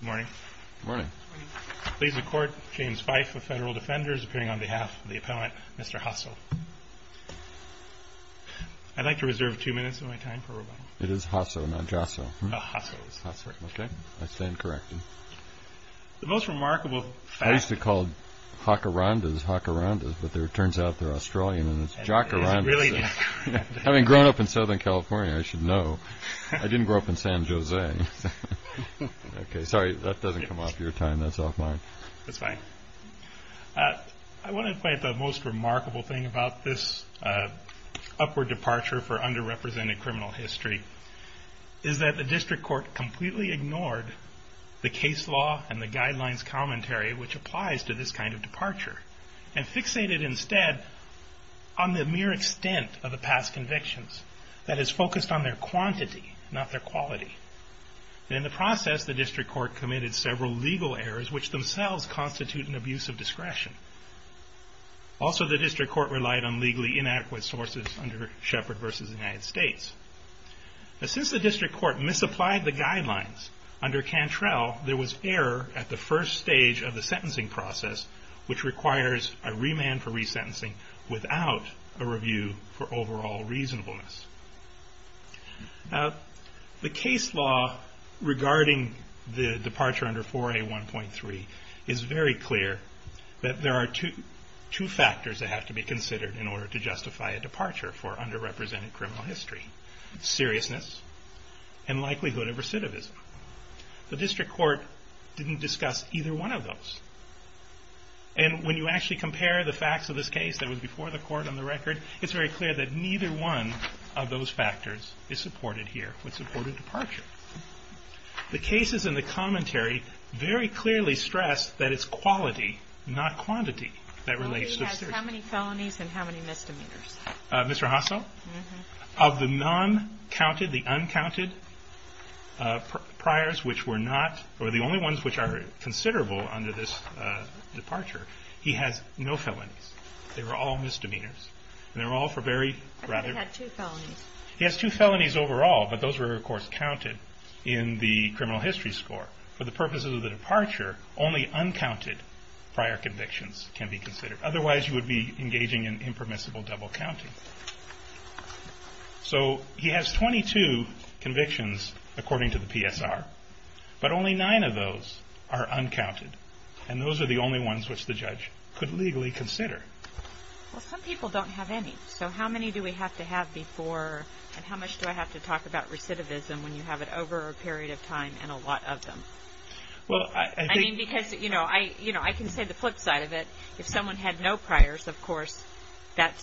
Good morning. Good morning. Pleased to court, James Fife of Federal Defenders, appearing on behalf of the Appellant, Mr. Hassell. I'd like to reserve two minutes of my time for rebuttal. It is Hassell, not JASSO. Oh, Hassell. Hassell, okay. I stand corrected. The most remarkable fact... I used to call them Hacarandas, Hacarandas, but it turns out they're Australian, and it's Jacarandas. It's really Jacarandas. Having grown up in Southern California, I should know. I didn't grow up in San Jose. Okay, sorry, that doesn't come off your time. That's off mine. That's fine. I want to point out the most remarkable thing about this upward departure for underrepresented criminal history is that the district court completely ignored the case law and the guidelines commentary which applies to this kind of departure and fixated instead on the mere extent of the past convictions that is focused on their quantity, not their quality. In the process, the district court committed several legal errors which themselves constitute an abuse of discretion. Also, the district court relied on legally inadequate sources under Shepard v. United States. Since the district court misapplied the guidelines, under Cantrell, there was error at the first stage of the sentencing process which requires a remand for resentencing without a review for overall reasonableness. The case law regarding the departure under 4A1.3 is very clear that there are two factors that have to be considered in order to justify a departure for underrepresented criminal history. Seriousness and likelihood of recidivism. The district court didn't discuss either one of those. When you actually compare the facts of this case that was before the court on the record, it's very clear that neither one of those factors is supported here with support of departure. The cases in the commentary very clearly stress that it's quality, not quantity, that relates to the district. How many felonies and how many misdemeanors? Mr. Hasso, of the non-counted, the uncounted priors which were not, or the only ones which are considerable under this departure, he has no felonies. They were all misdemeanors. And they were all for very... I thought he had two felonies. He has two felonies overall, but those were of course counted in the criminal history score. For the purposes of the departure, only uncounted prior convictions can be considered. Otherwise you would be engaging in impermissible double counting. So he has 22 convictions according to the PSR, but only nine of those are uncounted. And those are the only ones which the judge could legally consider. Well, some people don't have any. So how many do we have to have before, and how much do I have to talk about recidivism when you have it over a period of time and a lot of them? Well, I think... I mean, because, you know, I can say the flip side of it. If someone had no priors, of course, that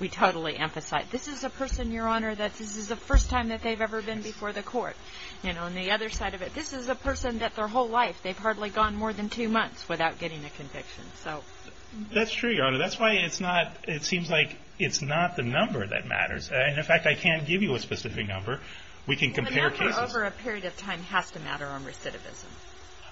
we totally emphasize. This is a person, Your Honor, that this is the first time that they've ever been before the court. You know, and the other side of it, this is a person that their whole life they've hardly gone more than two months without getting a conviction. So... That's true, Your Honor. That's why it's not... It seems like it's not the number that matters. And, in fact, I can't give you a specific number. We can compare cases. The number over a period of time has to matter on recidivism.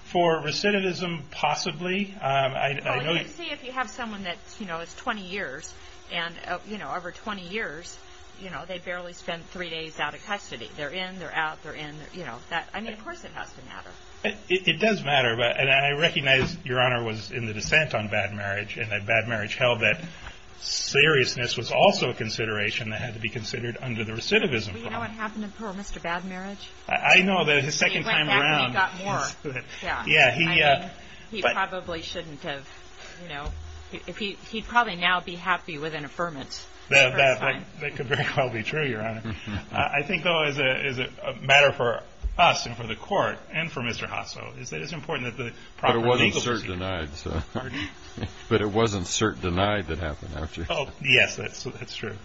For recidivism, possibly. I know... Well, you can see if you have someone that, you know, is 20 years. And, you know, over 20 years, you know, they barely spent three days out of custody. They're in, they're out, they're in. You know, that... I mean, of course it has to matter. It does matter. And I recognize, Your Honor, was in the dissent on bad marriage and that bad marriage held that seriousness was also a consideration that had to be considered under the recidivism problem. Do you know what happened to poor Mr. Bad Marriage? I know that his second time around... He went back and he got more. Yeah. Yeah, he... I mean, he probably shouldn't have, you know... He'd probably now be happy with an affirmance. That could very well be true, Your Honor. I think, though, as a matter for us and for the court and for Mr. Hossow, is that it's important that the proper legal... But it wasn't cert denied, so... Pardon? But it wasn't cert denied that happened after. Oh, yes, that's true.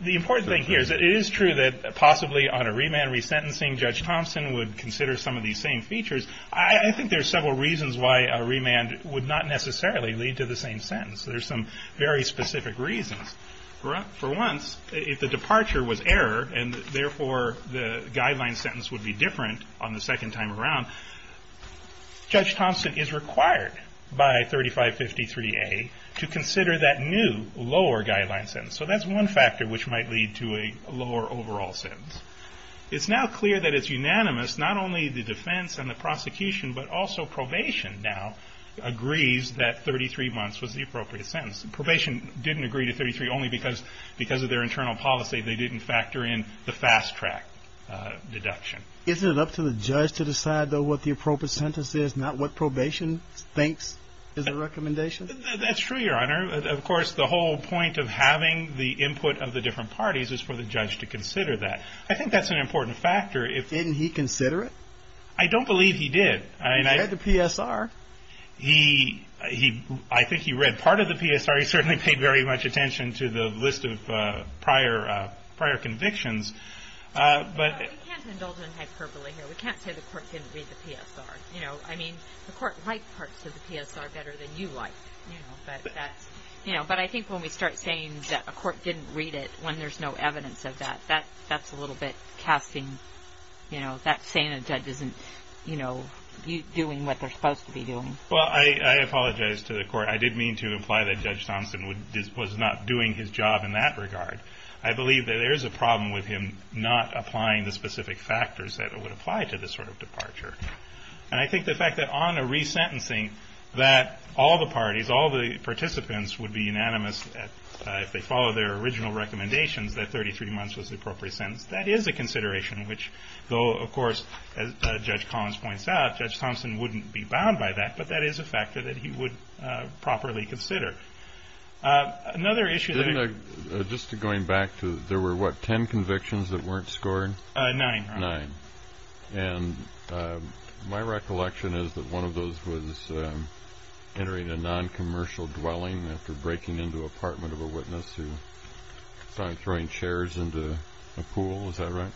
The important thing here is that it is true that possibly on a remand resentencing, Judge Thompson would consider some of these same features. I think there's several reasons why a remand would not necessarily lead to the same sentence. There's some very specific reasons. For once, if the departure was error, and therefore the guideline sentence would be different on the second time around, Judge Thompson is required by 3553A to consider that new lower guideline sentence. So that's one factor which might lead to a lower overall sentence. It's now clear that it's unanimous, not only the defense and the prosecution, but also probation now agrees that 33 months was the appropriate sentence. Probation didn't agree to 33 only because of their internal policy. They didn't factor in the fast track deduction. Isn't it up to the judge to decide, though, what the appropriate sentence is, not what probation thinks is the recommendation? That's true, Your Honor. Of course, the whole point of having the input of the different parties is for the judge to consider that. I think that's an important factor. Didn't he consider it? I don't believe he did. He read the PSR. I think he read part of the PSR. He certainly paid very much attention to the list of prior convictions. We can't indulge in hyperbole here. We can't say the court didn't read the PSR. I mean, the court liked parts of the PSR better than you liked. But I think when we start saying that a court didn't read it when there's no evidence of that, that's a little bit casting, you know, that's saying a judge isn't, you know, doing what they're supposed to be doing. Well, I apologize to the court. I did mean to imply that Judge Thompson was not doing his job in that regard. I believe that there is a problem with him not applying the specific factors that would apply to this sort of departure. And I think the fact that on a resentencing that all the parties, all the participants would be unanimous if they follow their original recommendations that 33 months was the appropriate sentence, that is a consideration, which, though, of course, as Judge Collins points out, Judge Thompson wouldn't be bound by that, but that is a factor that he would properly consider. Another issue that I- Just going back to there were, what, 10 convictions that weren't scored? Nine. Nine. And my recollection is that one of those was entering a noncommercial dwelling after breaking into the apartment of a witness who saw him throwing chairs into a pool. Is that right?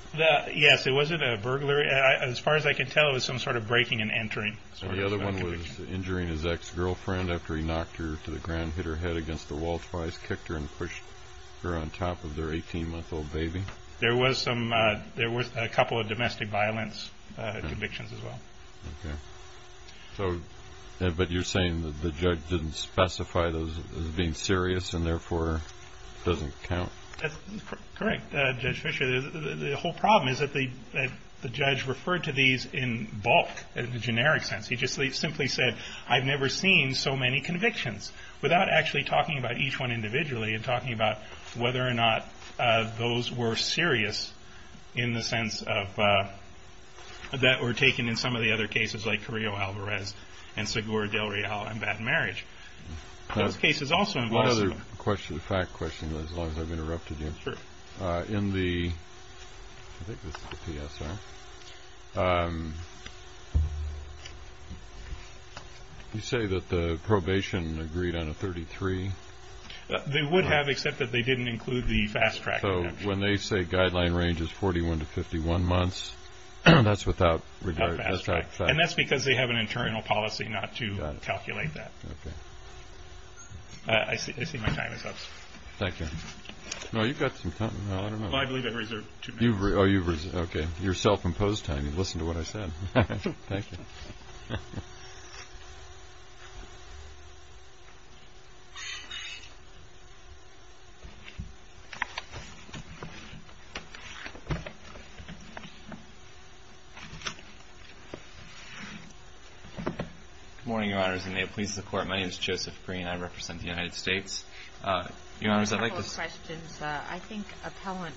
Yes. It wasn't a burglary. As far as I can tell, it was some sort of breaking and entering. The other one was injuring his ex-girlfriend after he knocked her to the ground, hit her head against the wall twice, kicked her, and pushed her on top of their 18-month-old baby. There was some- There was a couple of domestic violence convictions as well. Okay. So- But you're saying that the judge didn't specify those as being serious and, therefore, doesn't count? That's correct, Judge Fischer. The whole problem is that the judge referred to these in bulk, in a generic sense. He just simply said, I've never seen so many convictions, without actually talking about each one individually and talking about whether or not those were serious in the sense that were taken in some of the other cases, like Carrillo-Alvarez and Segura-Del Real and bad marriage. Those cases also- One other question, a fact question, as long as I've interrupted you. Sure. In the- I think this is the PSR. You say that the probation agreed on a 33? They would have, except that they didn't include the fast-track exemption. So when they say guideline range is 41 to 51 months, that's without- Without fast-track. And that's because they have an internal policy not to calculate that. Okay. I see my time is up. Thank you. No, you've got some time. I don't know. Well, I believe I've reserved two minutes. Oh, you've reserved. Okay. You're self-imposed time. You listened to what I said. Thank you. Good morning, Your Honors, and may it please the Court. My name is Joseph Green. I represent the United States. Your Honors, I'd like to- A couple of questions. I think appellant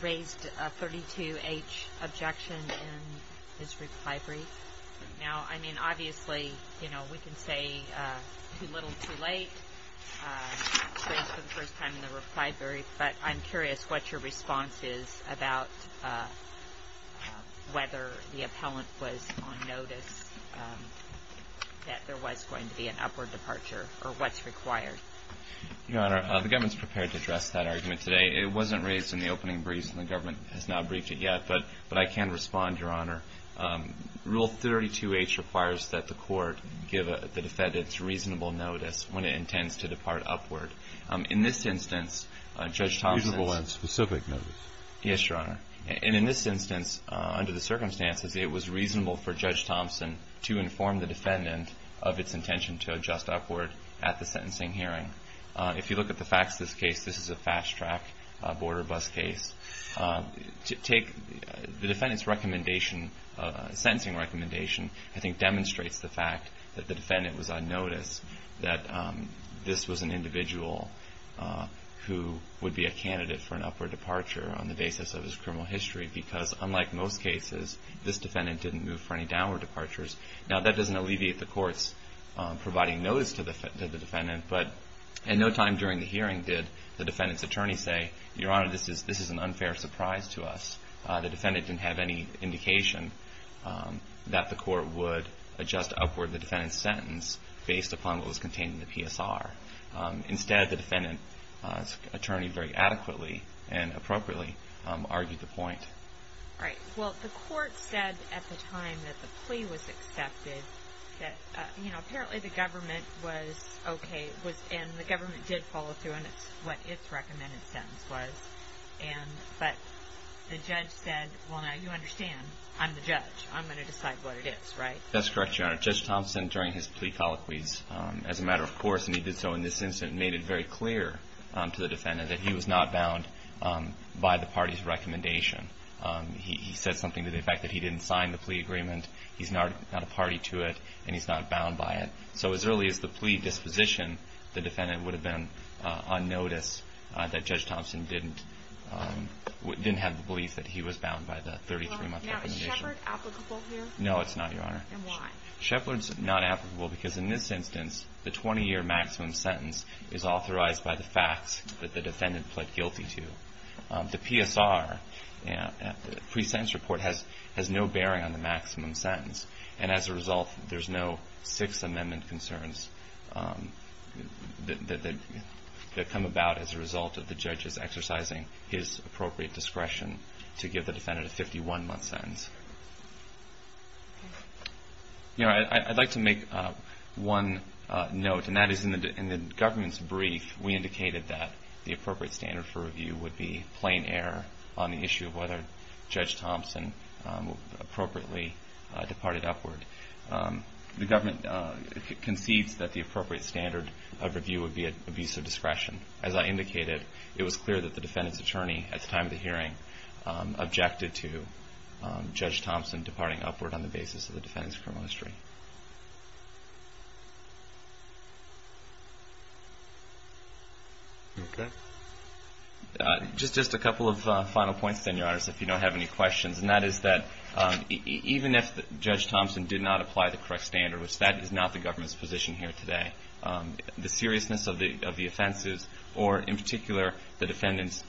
raised a 32H objection in his reply brief. Now, I mean, obviously, you know, we can say too little, too late, since it's the first time in the reply brief, but I'm curious what your response is about whether the appellant was on notice that there was going to be an upward departure, or what's required. Your Honor, the government's prepared to address that argument today. It wasn't raised in the opening brief, and the government has not briefed it yet. But I can respond, Your Honor. Rule 32H requires that the Court give the defendant reasonable notice when it intends to depart upward. In this instance, Judge Thompson- Reasonable and specific notice. Yes, Your Honor. And in this instance, under the circumstances, it was reasonable for Judge Thompson to inform the defendant of its intention to adjust upward at the sentencing hearing. If you look at the facts of this case, this is a fast-track border bus case. The defendant's recommendation, sentencing recommendation, I think demonstrates the fact that the defendant was on notice that this was an individual who would be a candidate for an upward departure on the basis of his criminal history because, unlike most cases, this defendant didn't move for any downward departures. Now, that doesn't alleviate the Court's providing notice to the defendant, but at no time during the hearing did the defendant's attorney say, Your Honor, this is an unfair surprise to us. The defendant didn't have any indication that the Court would adjust upward the defendant's sentence based upon what was contained in the PSR. Instead, the defendant's attorney very adequately and appropriately argued the point. All right. Well, the Court said at the time that the plea was accepted that, you know, apparently the government was okay and the government did follow through and it's what its recommended sentence was. But the judge said, Well, now you understand. I'm the judge. I'm going to decide what it is, right? That's correct, Your Honor. Judge Thompson, during his plea colloquies as a matter of course, and he did so in this instance, made it very clear to the defendant that he was not bound by the party's recommendation. He said something to the effect that he didn't sign the plea agreement, he's not a party to it, and he's not bound by it. So as early as the plea disposition, the defendant would have been on notice that Judge Thompson didn't have the belief that he was bound by the 33-month recommendation. No, it's not, Your Honor. And why? Shepard's not applicable because in this instance, the 20-year maximum sentence is authorized by the facts that the defendant pled guilty to. The PSR, the pre-sentence report, has no bearing on the maximum sentence, and as a result, there's no Sixth Amendment concerns that come about as a result of the judge's exercising his appropriate discretion to give the defendant a 51-month sentence. Your Honor, I'd like to make one note, and that is in the government's brief, we indicated that the appropriate standard for review would be plain error on the issue of whether Judge Thompson appropriately departed upward. The government concedes that the appropriate standard of review would be abuse of discretion. As I indicated, it was clear that the defendant's attorney at the time of the hearing objected to Judge Thompson departing upward on the basis of the defendant's criminal history. Okay. Just a couple of final points, then, Your Honor, if you don't have any questions, and that is that even if Judge Thompson did not apply the correct standard, which that is not the government's position here today, the seriousness of the offenses, or in particular, the defendant's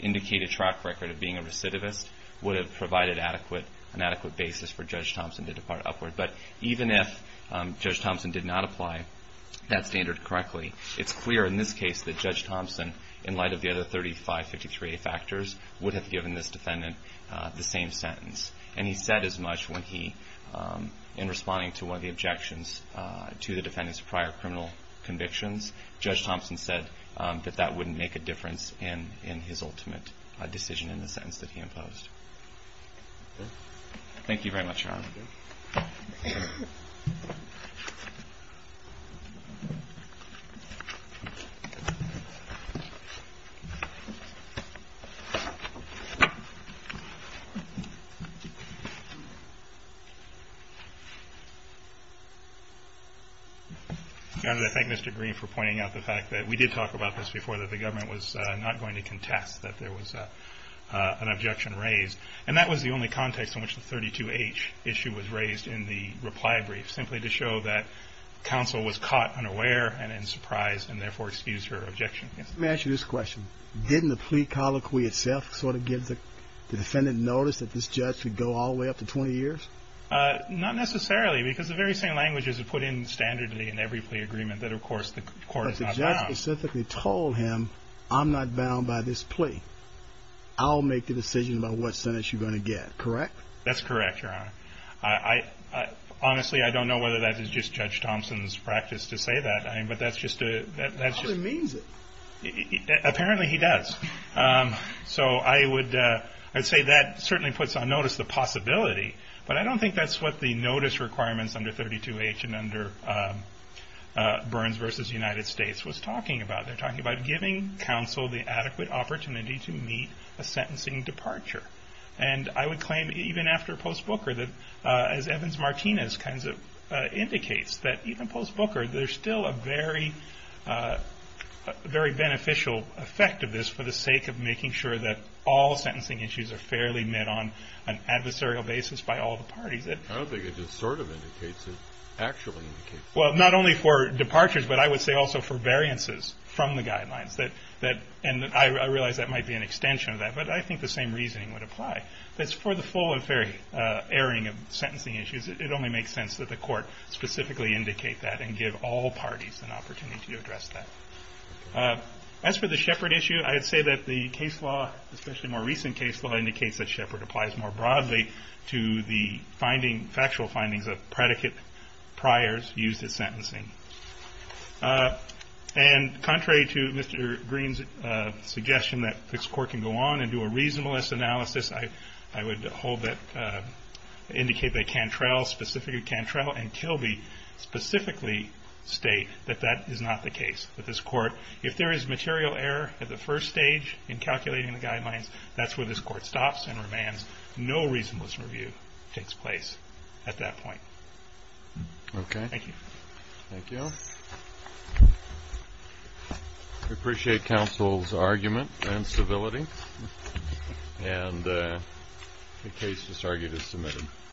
indicated track record of being a recidivist would have provided an adequate basis for Judge Thompson to depart upward. But even if Judge Thompson did not apply that standard correctly, it's clear in this case that Judge Thompson, in light of the other 3553A factors, would have given this defendant the same sentence. And he said as much when he, in responding to one of the objections to the defendant's prior criminal convictions, Judge Thompson said that that wouldn't make a difference in his ultimate decision in the sentence that he imposed. Thank you very much, Your Honor. Thank you. I'm just pointing out the fact that we did talk about this before, that the government was not going to contest that there was an objection raised. And that was the only context in which the 32H issue was raised in the reply brief, simply to show that counsel was caught unaware and in surprise, and therefore excused her objection. Let me ask you this question. Didn't the plea colloquy itself sort of give the defendant notice that this judge would go all the way up to 20 years? Not necessarily, because the very same language is put in standardly in every plea agreement that, of course, the court is not bound. But the judge specifically told him, I'm not bound by this plea. I'll make the decision about what sentence you're going to get, correct? That's correct, Your Honor. Honestly, I don't know whether that is just Judge Thompson's practice to say that, but that's just a- Probably means it. Apparently he does. So I would say that certainly puts on notice the possibility, but I don't think that's what the notice requirements under 32H and under Burns v. United States was talking about. They're talking about giving counsel the adequate opportunity to meet a sentencing departure. And I would claim even after post-Booker that, as Evans-Martinez indicates, that even post-Booker there's still a very beneficial effect of this for the sake of making sure that all sentencing issues are fairly met on an adversarial basis by all the parties. I don't think it just sort of indicates it. It actually indicates it. Well, not only for departures, but I would say also for variances from the guidelines. And I realize that might be an extension of that, but I think the same reasoning would apply. That's for the full and fair airing of sentencing issues. It only makes sense that the court specifically indicate that and give all parties an opportunity to address that. As for the Shepard issue, I would say that the case law, especially more recent case law, indicates that Shepard applies more broadly to the finding, factual findings of predicate priors used in sentencing. And contrary to Mr. Green's suggestion that this court can go on and do a reasonableness analysis, I would hold that, indicate that Cantrell, specifically Cantrell and Kilby, specifically state that that is not the case. That this court, if there is material error at the first stage in calculating the guidelines, that's where this court stops and remands. No reasonableness review takes place at that point. Okay. Thank you. Thank you. We appreciate counsel's argument and civility. And the case disargued is submitted.